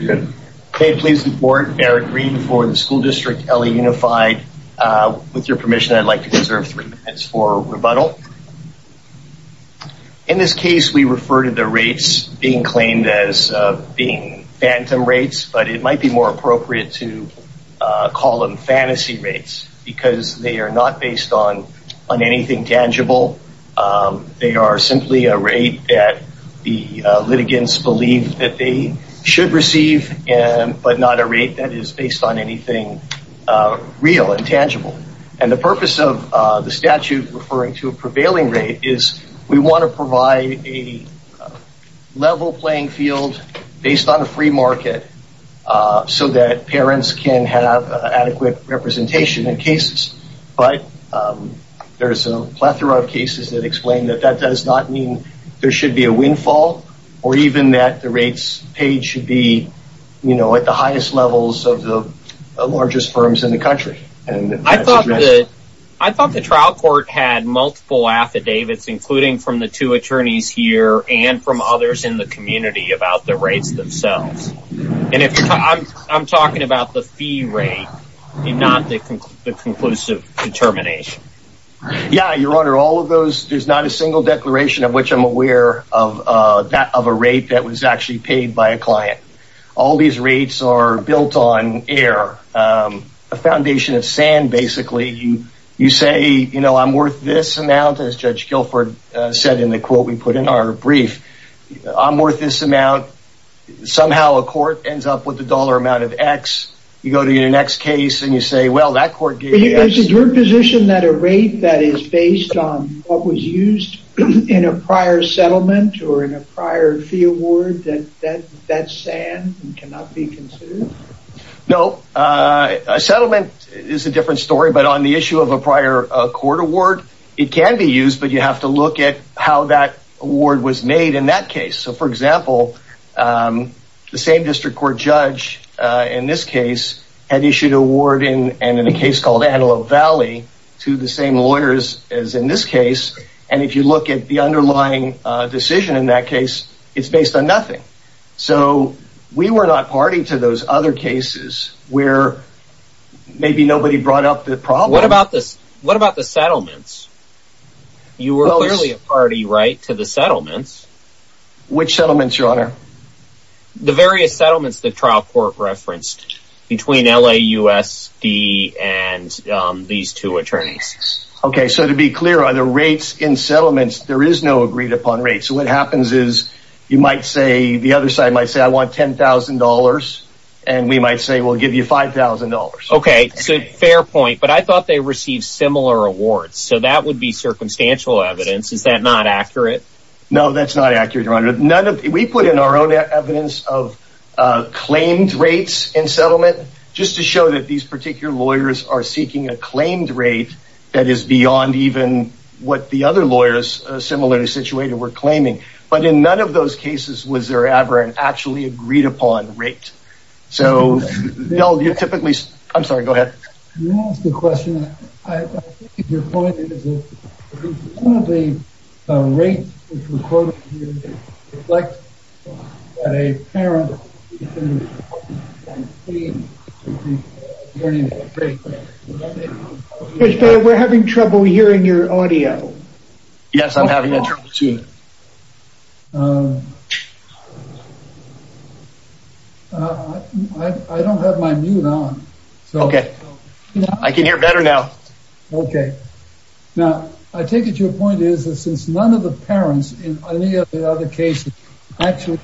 I would like to reserve three minutes for rebuttal. In this case we refer to the rates being claimed as being phantom rates but it might be more appropriate to call them fantasy rates because they are not based on anything tangible. They are simply a rate that the parent should receive but not a rate that is based on anything real and tangible. And the purpose of the statute referring to a prevailing rate is we want to provide a level playing field based on a free market so that parents can have adequate representation in cases but there is a plethora of cases that explain that that does not mean there should be a windfall or even that the rates paid should be at the highest levels of the largest firms in the country. I thought the trial court had multiple affidavits including from the two attorneys here and from others in the community about the rates themselves. I am talking about the fee rate and not the conclusive determination. There is not a single declaration of which I am aware of a rate that was actually paid by a client. All of these rates are built on air. A foundation of sand basically. You say I am worth this amount as Judge Gilford said in the quote we put in our brief. I am worth this amount. Somehow a court ends up with a dollar amount of X. You go to your next case and you say well that court gave you X. Is your position that a rate that is based on what was used in a prior settlement or in a prior fee award that is sand and cannot be considered? No. A settlement is a different story but on the issue of a prior court award it can be used but you have to look at how that award was made in that case. For example, the same district court judge in this case had issued award in a case called Antelope Valley to the same lawyers as in this case. If you look at the underlying decision in that case, it is based on nothing. We were not party to those other cases where maybe nobody brought up the problem. What about the settlements? You were clearly a party right to the settlements. Which settlements your honor? The various settlements the trial court referenced between LAUSD and these two attorneys. To be clear, are there rates in settlements? There is no agreed upon rate. What happens is the other side might say I want $10,000 and we might say we'll give you $5,000. Fair point but I thought they received similar awards so that would be circumstantial evidence. Is that not accurate? No, that's not accurate. We put in our own evidence of claimed rates in settlement just to show that these particular lawyers are seeking a claimed rate that is beyond even what the other lawyers were claiming. But in none of those cases was there ever an actually agreed upon rate. I'm sorry, go ahead. You asked a question. I think your point is that some of the rates which were quoted here reflect that a parent is in a situation where he's earning a great rate. Judge Beyer, we're having trouble hearing your audio. Yes, I'm having that trouble too. I don't have my mute on. Okay, I can hear better now. Okay. Now, I take it your point is that since none of the parents in any of the other cases actually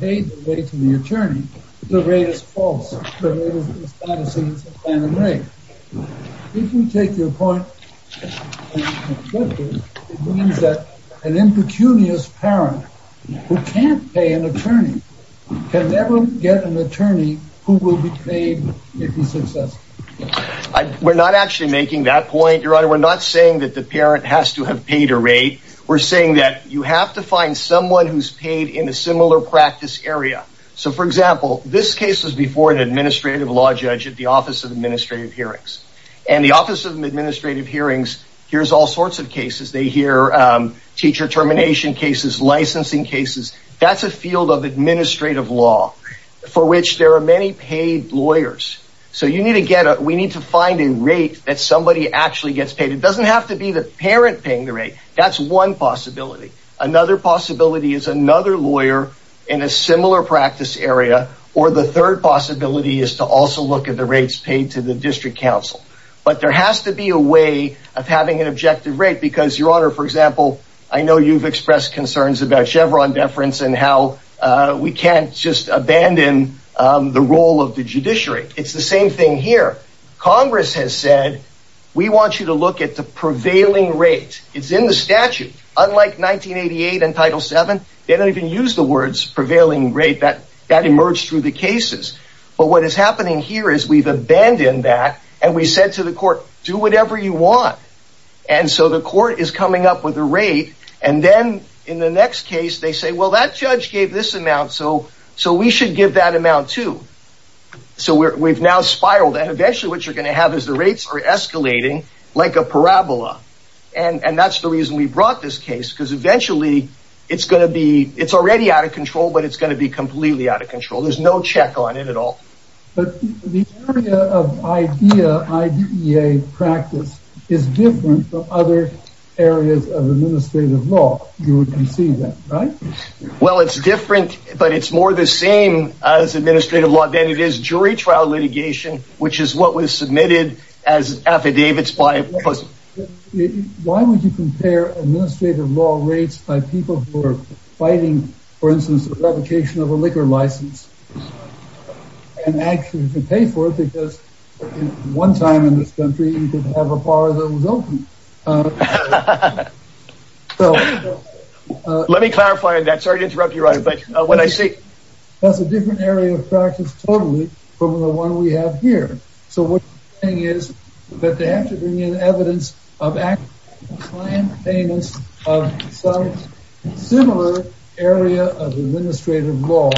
paid the rate to the attorney, the rate is false. If you take your point, it means that an impecunious parent who can't pay an attorney can never get an attorney who will be paid if he's successful. We're not actually making that point, your honor. We're not saying that the parent has to have paid a rate. We're saying that you have to find someone who's paid in a similar practice area. So, for example, this case was before an administrative law judge at the Office of Administrative Hearings. And the Office of Administrative Hearings hears all sorts of cases. They hear teacher termination cases, licensing cases. That's a field of administrative law for which there are many paid lawyers. So you need to get a, we need to find a rate that somebody actually gets paid. It doesn't have to be the parent paying the rate. That's one possibility. Another possibility is another lawyer in a similar practice area. Or the third possibility is to also look at the rates paid to the district council. But there has to be a way of having an objective rate because, your honor, for example, I know you've expressed concerns about Chevron deference and how we can't just abandon the role of the judiciary. It's the same thing here. Congress has said, we want you to look at the prevailing rate. It's in the statute. Unlike 1988 and Title VII, they don't even use the words prevailing rate. That emerged through the cases. But what is happening here is we've abandoned that and we said to the court, do whatever you want. And so the court is coming up with a rate. And then in the next case, they say, well, that judge gave this amount, so we should give that amount too. So we've now spiraled that. Eventually what you're going to have is the rates are in a parabola. And that's the reason we brought this case because eventually it's going to be, it's already out of control, but it's going to be completely out of control. There's no check on it at all. But the area of IDEA practice is different from other areas of administrative law. You would concede that, right? Well, it's different, but it's more the same as administrative law than it is jury trial litigation, which is what was submitted as affidavits. Why would you compare administrative law rates by people who are fighting, for instance, the revocation of a liquor license and actually to pay for it? Because one time in this country, you could have a bar that was open. Let me clarify that. Sorry to interrupt you, but what I see, that's a different area of practice totally from the one we have here. So what I'm saying is that they have to bring in evidence of similar area of administrative law.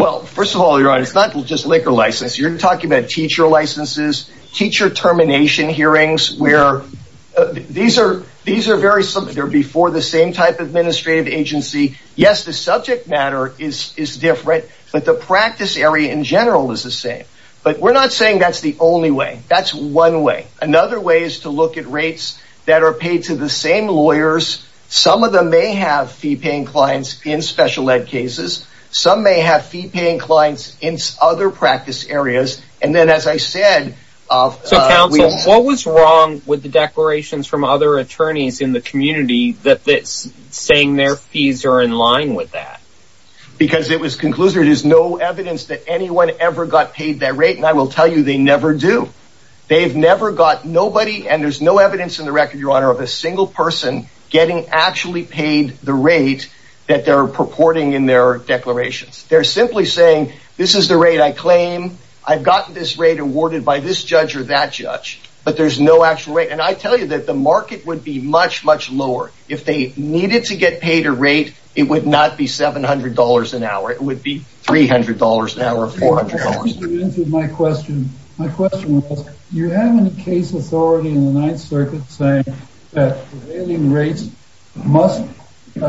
Well, first of all, you're right. It's not just liquor license. You're talking about teacher licenses, teacher termination hearings where these are very similar. type of administrative agency. Yes, the subject matter is different, but the practice area in general is the same. But we're not saying that's the only way. That's one way. Another way is to look at rates that are paid to the same lawyers. Some of them may have fee-paying clients in special ed cases. Some may have fee-paying clients in other practice areas. So, counsel, what was wrong with the declarations from other attorneys in the community saying their fees are in line with that? Because it was concluded there's no evidence that anyone ever got paid that rate, and I will tell you they never do. They've never got nobody, and there's no evidence in the record, Your Honor, of a single person getting actually paid the rate that they're purporting in their declarations. They're simply saying this is the rate I claim. I've gotten this rate awarded by this judge or that judge, but there's no actual rate, and I tell you that the market would be much, much lower. If they needed to get paid a rate, it would not be $700 an hour. It would be $300 an hour or $400. You answered my question. My question was, you have any case authority in the Ninth Circuit saying that prevailing rates must, in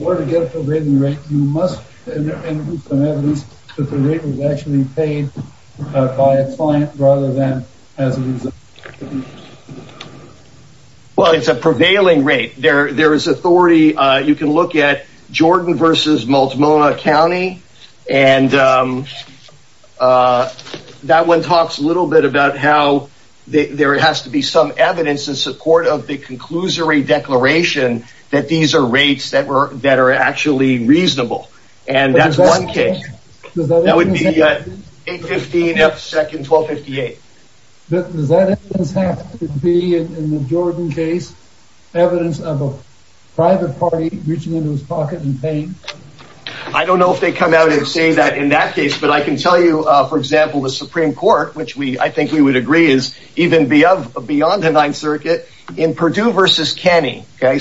order to get a prevailing rate, you must have evidence that the rate was actually paid by a client rather than as a result. Well, it's a prevailing rate. There is authority. You can look at Jordan v. Multnomah County, and that one talks a little bit about how there has to be some evidence in support of the conclusory declaration that these are rates that are actually reasonable, and that's one case. That would be 815 F. Seck and 1258. Does that evidence have to be, in the Jordan case, evidence of a private party reaching into his pocket and paying? I don't know if they come out and say that in that case, but I can tell you, for example, the Supreme Court, which I think we would agree is even beyond the Ninth Circuit, in Purdue v. Kenney, the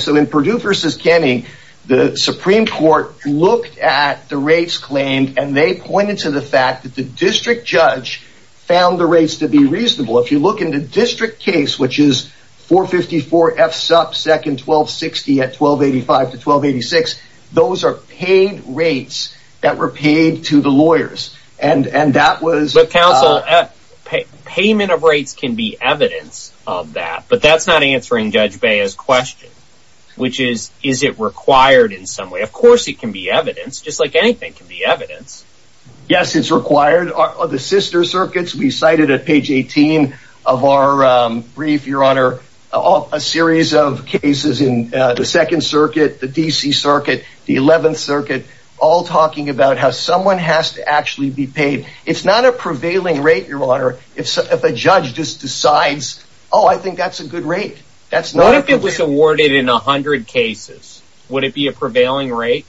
Supreme Court looked at the rates claimed, and they pointed to the fact that the district judge found the rates to be reasonable. If you look in the district case, which is 454 F. Seck and 1260 at 1285 to 1286, those are paid rates that were paid to the lawyers. But, counsel, payment of rates can be evidence of that, but that's not answering Judge Bea's question, which is, is it required in some way? Of course it can be evidence, just like anything can be evidence. Yes, it's required. The sister circuits, we cited at page 18 of our brief, your honor, a series of cases in the Second Circuit, the D.C. Circuit, the Eleventh Circuit, all talking about how someone has to actually be paid. It's not a prevailing rate, your honor, if a judge just decides, oh, I think that's a good rate. What if it was awarded in 100 cases? Would it be a prevailing rate?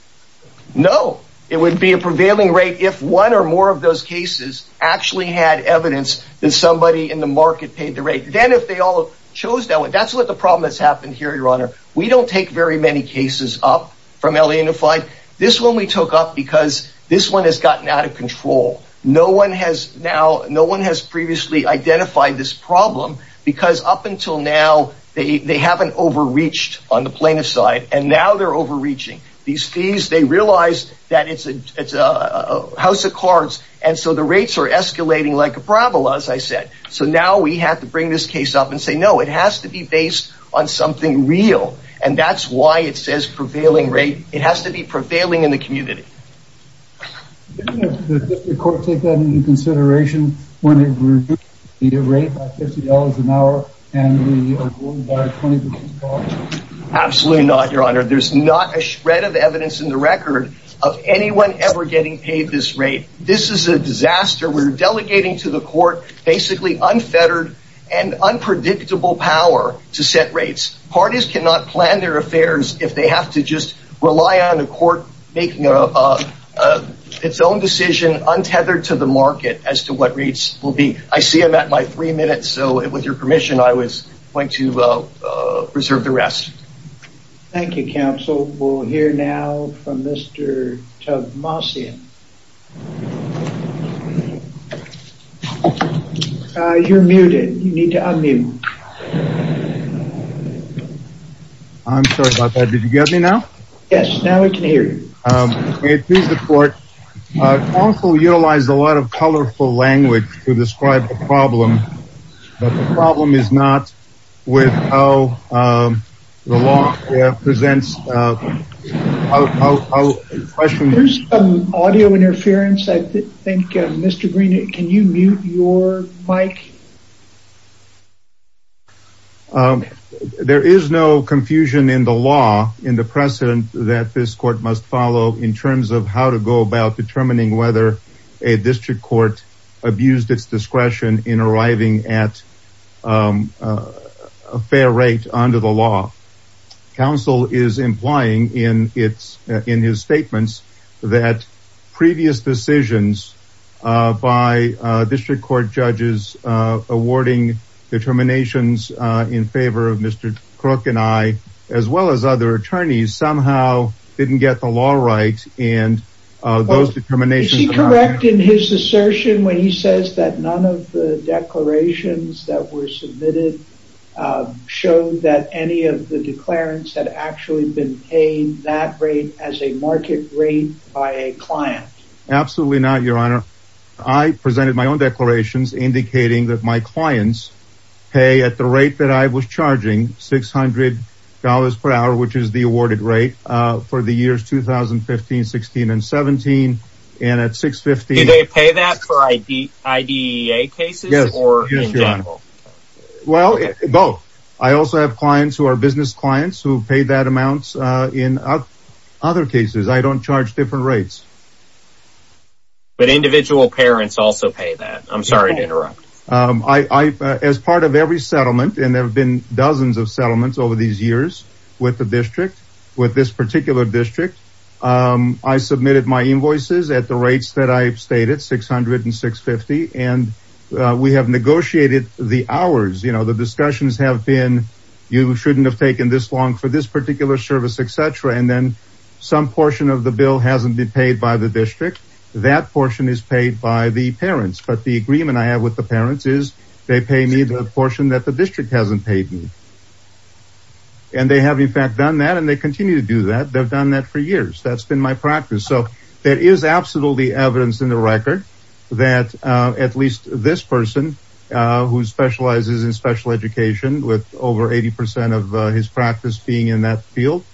No, it would be a prevailing rate if one or more of those cases actually had evidence that somebody in the market paid the rate. Then if they all chose that one, that's what the problem has happened here, your honor. We don't take very many cases up from LA Unified. This one we took up because this one has gotten out of control. No one has now, no one has previously identified this problem because up until now, they haven't overreached on the plaintiff's side, and now they're overreaching. These fees, they realize that it's a house of cards, and so the rates are escalating like a parabola, as I said. So now we have to bring this case up and say, no, it has to be based on something real, and that's why it says prevailing rate. It has to be prevailing in the community. Doesn't the court take that into consideration when it reduces the rate by $50 an hour and we are going by a 20% margin? Absolutely not, your honor. There's not a shred of evidence in the record of anyone ever getting paid this rate. This is a disaster. We're delegating to the court basically unfettered and unpredictable power to set rates. Parties cannot plan their affairs if they have to just rely on the court making its own decision untethered to the market as to what rates will be. I see I'm at my three minutes, so with your permission, I was going to reserve the rest. Thank you, counsel. We'll hear now from Mr. Tomasian. You're muted. You need to unmute. I'm sorry about that. Did you get me now? Yes, now we can hear you. Counsel utilized a lot of colorful language to describe the problem, but the problem is not with how the law presents questions. There's some audio interference. I think, Mr. Green, can you mute your mic? There is no confusion in the law in the precedent that this court must follow in terms of how to go about determining whether a district court abused its discretion in arriving at a fair rate under the law. Counsel is implying in his statements that previous decisions by district court judges awarding determinations in favor of Mr. Crook and I, as well as other attorneys, somehow didn't get the law right. Is he correct in his assertion when he says that none of the declarations that were submitted showed that any of the declarants had actually been paid that rate as a market rate by a client? Absolutely not, Your Honor. I presented my own declarations indicating that my clients pay at the rate that I was charging, $600 per hour, which is the awarded rate for the years 2015, 16, and 17. Did they pay that for IDEA cases or in general? Both. I also have clients who are business clients who pay that amount in other cases. I don't charge different rates. But individual parents also pay that. I'm sorry to interrupt. As part of every settlement, and there have been dozens of settlements over these years with the district, with this particular district, I submitted my invoices at the rates that I stated, $600 and $650. And we have negotiated the hours. You know, the discussions have been, you shouldn't have taken this long for this particular service, etc. And then some portion of the bill hasn't been paid by the district. That portion is paid by the parents. But the agreement I have with the parents is they pay me the portion that the district hasn't paid me. And they have, in fact, done that and they continue to do that. They've done that for years. That's been my practice. So there is absolutely evidence in the record that at least this person, who specializes in special education with over 80% of his practice being in that field,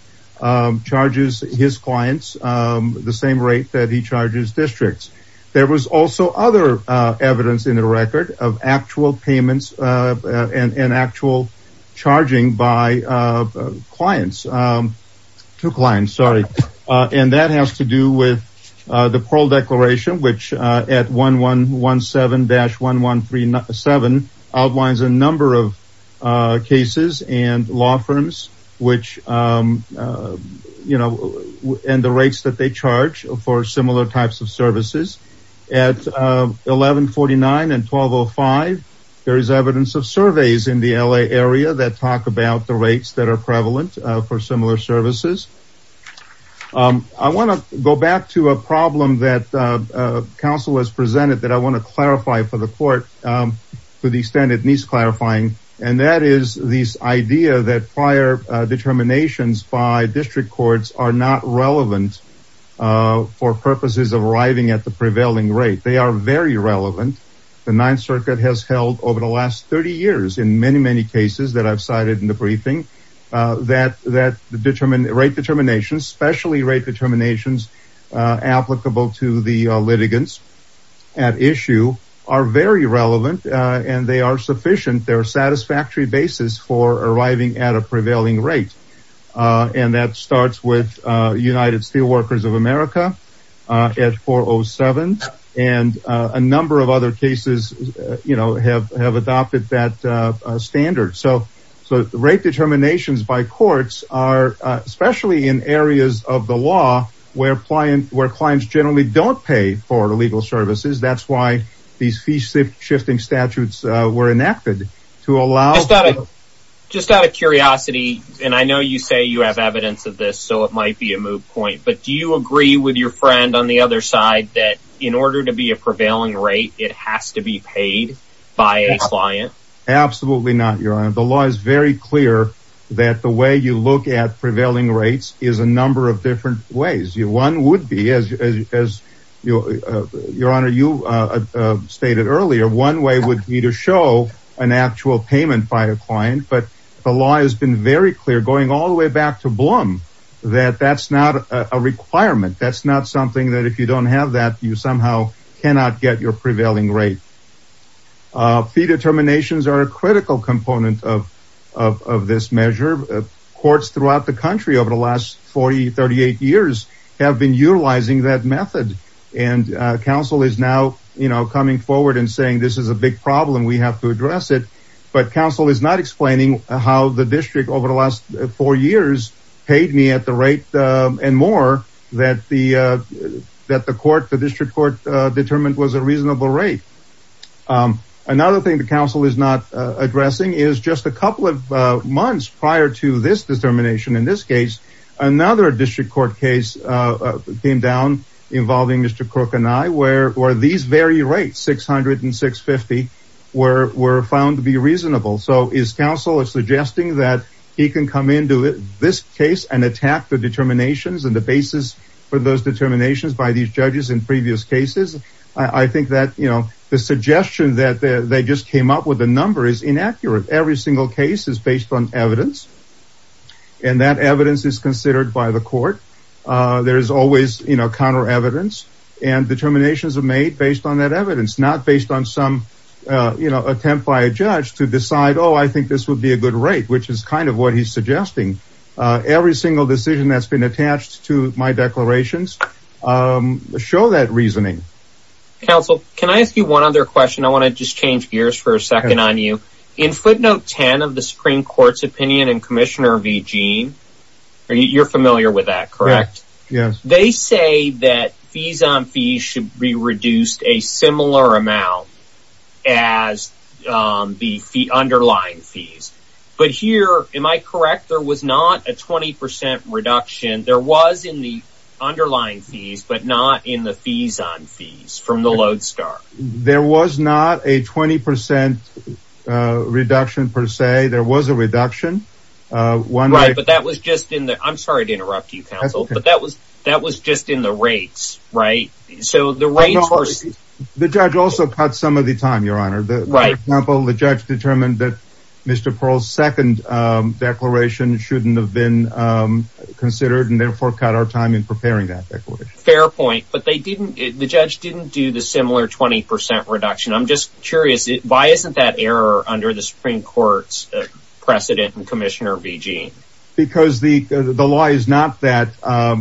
charges his clients the same rate that he charges districts. There was also other evidence in the record of actual payments and actual charging by clients. Two clients, sorry. And that has to do with the parole declaration, which at 1117-1137 outlines a number of cases and law firms which, you know, and the rates that they charge for similar types of services. At 1149 and 1205, there is evidence of surveys in the LA area that talk about the rates that are prevalent for similar services. I want to go back to a problem that counsel has presented that I want to clarify for the court to the extent it needs clarifying. And that is this idea that prior determinations by district courts are not relevant for purposes of arriving at the prevailing rate. They are very relevant. The Ninth Circuit has held over the last 30 years in many, many cases that I've cited in the briefing. That rate determinations, especially rate determinations applicable to the litigants at issue, are very relevant and they are sufficient. They're a satisfactory basis for arriving at a prevailing rate. And that starts with United Steelworkers of America at 407. And a number of other cases, you know, have adopted that standard. So rate determinations by courts are, especially in areas of the law where clients generally don't pay for illegal services. That's why these fee-shifting statutes were enacted to allow... Just out of curiosity, and I know you say you have evidence of this, so it might be a moot point, but do you agree with your friend on the other side that in order to be a prevailing rate, it has to be paid by a client? Absolutely not, Your Honor. The law is very clear that the way you look at prevailing rates is a number of different ways. One would be, as Your Honor, you stated earlier, one way would be to show an actual payment by a client. But the law has been very clear, going all the way back to Blum, that that's not a requirement. That's not something that if you don't have that, you somehow cannot get your prevailing rate. Fee determinations are a critical component of this measure. Courts throughout the country over the last 40, 38 years have been utilizing that method. And counsel is now, you know, coming forward and saying this is a big problem. We have to address it. But counsel is not explaining how the district over the last four years paid me at the rate and more that the court, the district court determined was a reasonable rate. Another thing the counsel is not addressing is just a couple of months prior to this determination. In this case, another district court case came down involving Mr. Crook and I were were these very rates, 600 and 650 were were found to be reasonable. So his counsel is suggesting that he can come into this case and attack the determinations and the basis for those determinations by these judges in previous cases. I think that, you know, the suggestion that they just came up with a number is inaccurate. Every single case is based on evidence. And that evidence is considered by the court. There is always, you know, counter evidence and determinations are made based on that evidence, not based on some attempt by a judge to decide, oh, I think this would be a good rate, which is kind of what he's suggesting. Every single decision that's been attached to my declarations show that reasoning. Counsel, can I ask you one other question? I want to just change gears for a second on you. In footnote 10 of the Supreme Court's opinion and Commissioner V. Jean, you're familiar with that, correct? Yes. They say that fees on fees should be reduced a similar amount as the underlying fees. But here, am I correct? There was not a 20 percent reduction. There was in the underlying fees, but not in the fees on fees from the Lodestar. There was not a 20 percent reduction, per se. There was a reduction. Right. But that was just in the I'm sorry to interrupt you, counsel, but that was that was just in the rates. Right. So the rate. Right. For example, the judge determined that Mr. Pearl's second declaration shouldn't have been considered and therefore cut our time in preparing that fair point. But they didn't. The judge didn't do the similar 20 percent reduction. I'm just curious, why isn't that error under the Supreme Court's precedent and Commissioner V. Jean? Because the the law is not that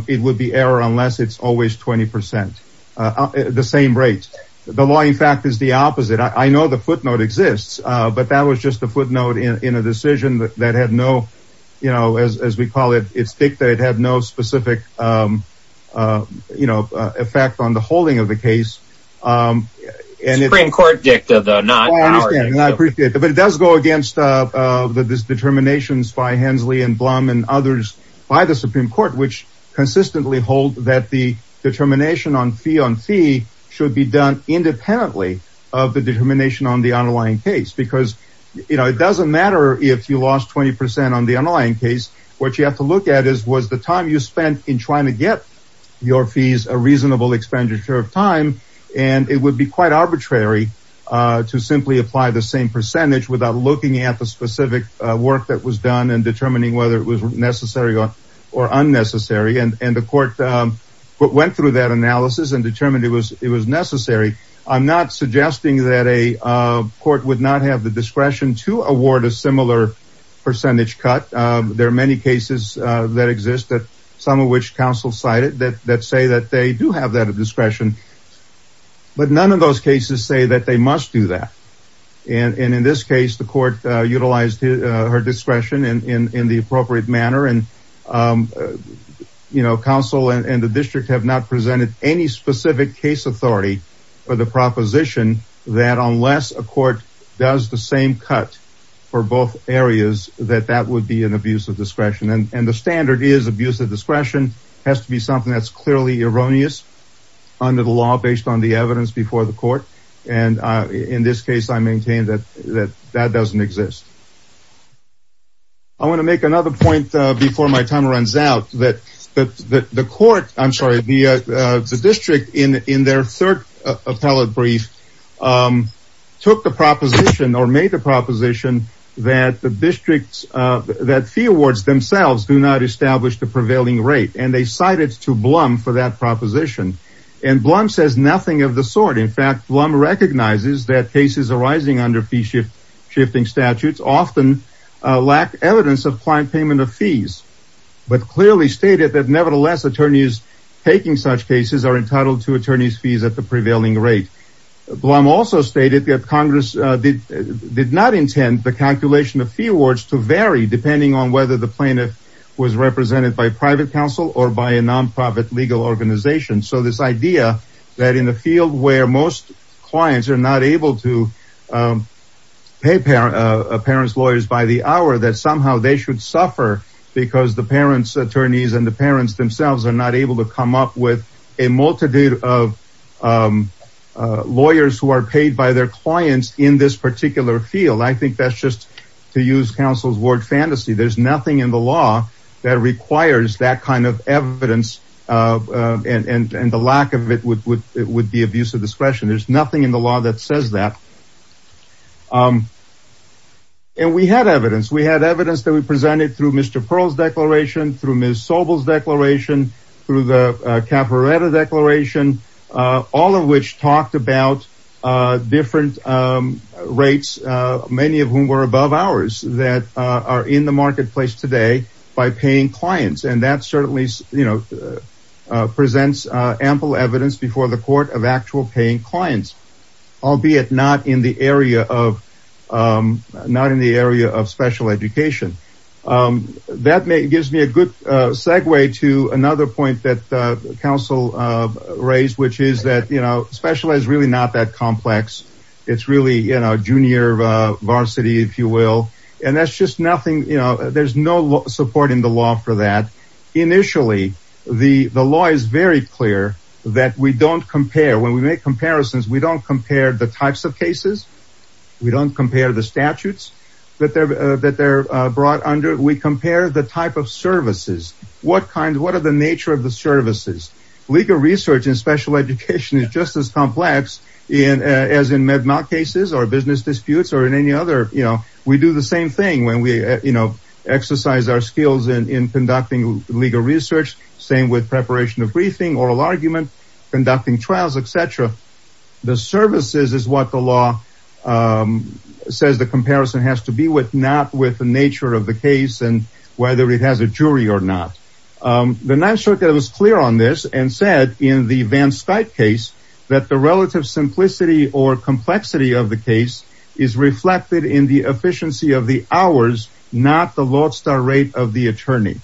it would be error unless it's always 20 percent the same rate. The law, in fact, is the opposite. I know the footnote exists, but that was just a footnote in a decision that had no, you know, as we call it, it's dictated, had no specific, you know, effect on the holding of the case. And it's Supreme Court dicta, though not. I appreciate it. But it does go against the determinations by Hensley and Blum and others by the Supreme Court, which consistently hold that the determination on fee on fee should be done independently of the determination on the underlying case. Because, you know, it doesn't matter if you lost 20 percent on the underlying case. What you have to look at is was the time you spent in trying to get your fees a reasonable expenditure of time. And it would be quite arbitrary to simply apply the same percentage without looking at the specific work that was done and determining whether it was necessary or unnecessary. And the court went through that analysis and determined it was it was necessary. I'm not suggesting that a court would not have the discretion to award a similar percentage cut. There are many cases that exist that some of which counsel cited that that say that they do have that discretion. But none of those cases say that they must do that. And in this case, the court utilized her discretion in the appropriate manner. And, you know, counsel and the district have not presented any specific case authority for the proposition that unless a court does the same cut for both areas, that that would be an abuse of discretion and the standard is abuse of discretion has to be something that's clearly erroneous under the law based on the evidence before the court. And in this case, I maintain that that that doesn't exist. I want to make another point before my time runs out, that the court, I'm sorry, the district in their third appellate brief took the proposition or made the proposition that the districts that fee awards themselves do not establish the prevailing rate. And they cited to Blum for that proposition. And Blum says nothing of the sort. In fact, Blum recognizes that cases arising under fee shift shifting statutes often lack evidence of client payment of fees, but clearly stated that nevertheless, attorneys taking such cases are entitled to attorneys fees at the prevailing rate. Blum also stated that Congress did not intend the calculation of fee awards to vary depending on whether the plaintiff was represented by private counsel or by a nonprofit legal organization. So this idea that in a field where most clients are not able to pay parents lawyers by the hour, that somehow they should suffer because the parents attorneys and the parents themselves are not able to come up with a multitude of lawyers who are paid by their clients in this particular field. I think that's just to use counsel's word fantasy. There's nothing in the law that requires that kind of evidence and the lack of it would be abuse of discretion. There's nothing in the law that says that. And we had evidence. We had evidence that we presented through Mr. Pearl's declaration, through Ms. Sobel's declaration, through the Caporetta declaration, all of which talked about different rates, many of whom were above ours that are in the marketplace today by paying clients. And that certainly presents ample evidence before the court of actual paying clients, albeit not in the area of special education. That gives me a good segue to another point that counsel raised, which is that special is really not that complex. It's really, you know, junior varsity, if you will. And that's just nothing. There's no support in the law for that. Initially, the law is very clear that we don't compare when we make comparisons. We don't compare the types of cases. We don't compare the statutes that they're that they're brought under. We compare the type of services. What kind of what are the nature of the services? Legal research and special education is just as complex as in MedMoc cases or business disputes or in any other. You know, we do the same thing when we, you know, exercise our skills in conducting legal research. Same with preparation of briefing, oral argument, conducting trials, etc. The services is what the law says. The comparison has to be with not with the nature of the case and whether it has a jury or not. The 9th Circuit was clear on this and said in the Van Stuyte case that the relative simplicity or complexity of the case is reflected in the efficiency of the hours, not the lodestar rate of the attorney.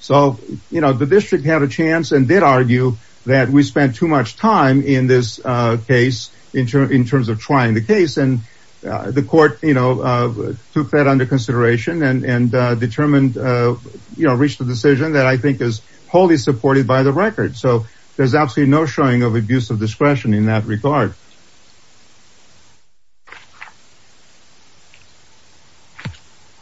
So, you know, the district had a chance and did argue that we spent too much time in this case in terms of trying the case. And the court, you know, took that under consideration and determined, you know, reached a decision that I think is wholly supported by the record. So there's absolutely no showing of abuse of discretion in that regard.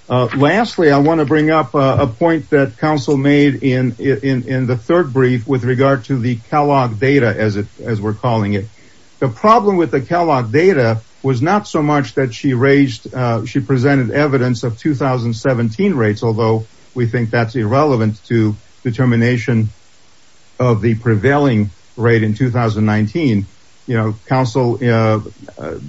Lastly, I want to bring up a point that counsel made in the third brief with regard to the Kellogg data as we're calling it. The problem with the Kellogg data was not so much that she raised, she presented evidence of 2017 rates, although we think that's irrelevant to determination of the prevailing rate in 2019. You know, counsel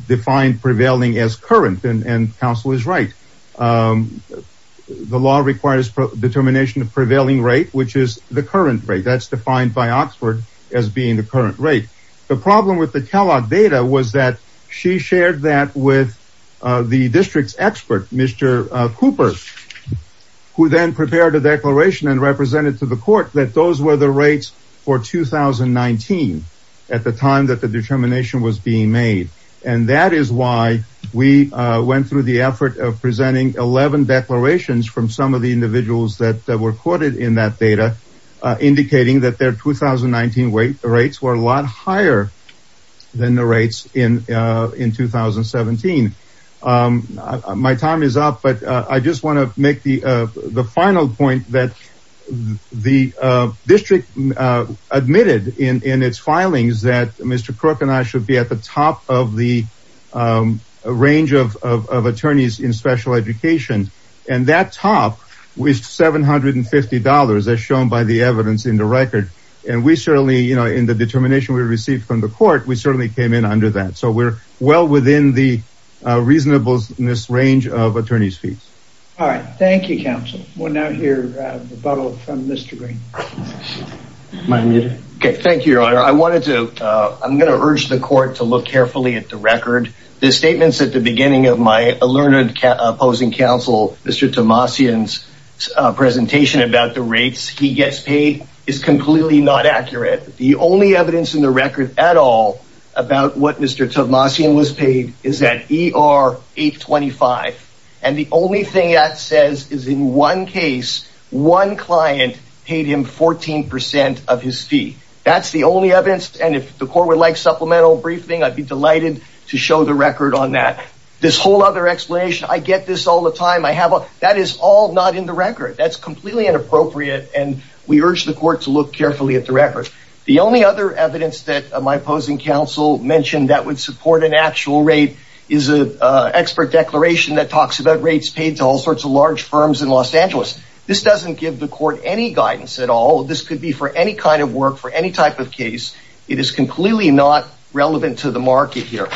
defined prevailing as current and counsel is right. The law requires determination of prevailing rate, which is the current rate that's defined by Oxford as being the current rate. The problem with the Kellogg data was that she shared that with the district's expert, Mr. Cooper, who then prepared a declaration and represented to the court that those were the rates for 2019 at the time that the determination was being made. And that is why we went through the effort of presenting 11 declarations from some of the individuals that were quoted in that data, indicating that their 2019 rates were a lot higher than the rates in 2017. My time is up, but I just want to make the final point that the district admitted in its filings that Mr. Crook and I should be at the top of the range of attorneys in special education. And that top was $750, as shown by the evidence in the record. And we certainly, you know, in the determination we received from the court, we certainly came in under that. So we're well within the reasonableness range of attorney's fees. All right. Thank you, counsel. We'll now hear rebuttal from Mr. Green. OK, thank you, your honor. I wanted to I'm going to urge the court to look carefully at the record. The statements at the beginning of my learned opposing counsel, Mr. Tomassian's presentation about the rates he gets paid is completely not accurate. The only evidence in the record at all about what Mr. Tomassian was paid is that he are 825. And the only thing that says is in one case, one client paid him 14 percent of his fee. That's the only evidence. And if the court would like supplemental briefing, I'd be delighted to show the record on that. This whole other explanation. I get this all the time. I have that is all not in the record. That's completely inappropriate. And we urge the court to look carefully at the record. The only other evidence that my opposing counsel mentioned that would support an actual rate is an expert declaration that talks about rates paid to all sorts of large firms in Los Angeles. This doesn't give the court any guidance at all. This could be for any kind of work for any type of case. It is completely not relevant to the market here.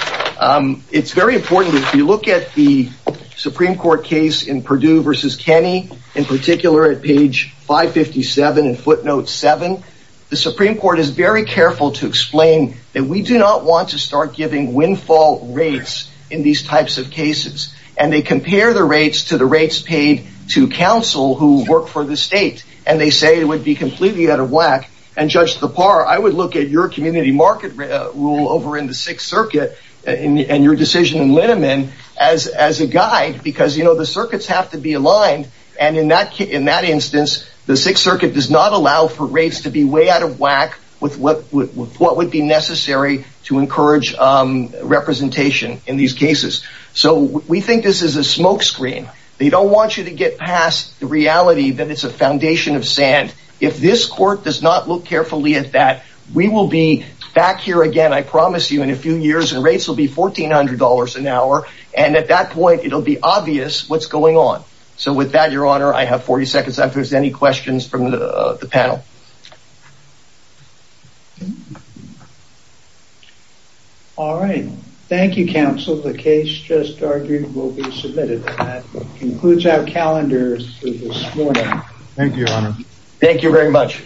It's very important. If you look at the Supreme Court case in Purdue versus Kenny, in particular, at page 557 and footnote seven. The Supreme Court is very careful to explain that we do not want to start giving windfall rates in these types of cases. And they compare the rates to the rates paid to counsel who work for the state. And they say it would be completely out of whack and judge the par. I would look at your community market rule over in the Sixth Circuit and your decision in Linneman as as a guide, because, you know, the circuits have to be aligned. And in that in that instance, the Sixth Circuit does not allow for rates to be way out of whack with what would what would be necessary to encourage representation in these cases. So we think this is a smokescreen. They don't want you to get past the reality that it's a foundation of sand. If this court does not look carefully at that, we will be back here again, I promise you, in a few years and rates will be fourteen hundred dollars an hour. And at that point, it'll be obvious what's going on. So with that, your honor, I have 40 seconds. If there's any questions from the panel. All right. Thank you, counsel. The case just argued will be submitted concludes our calendars this morning. Thank you. Thank you very much.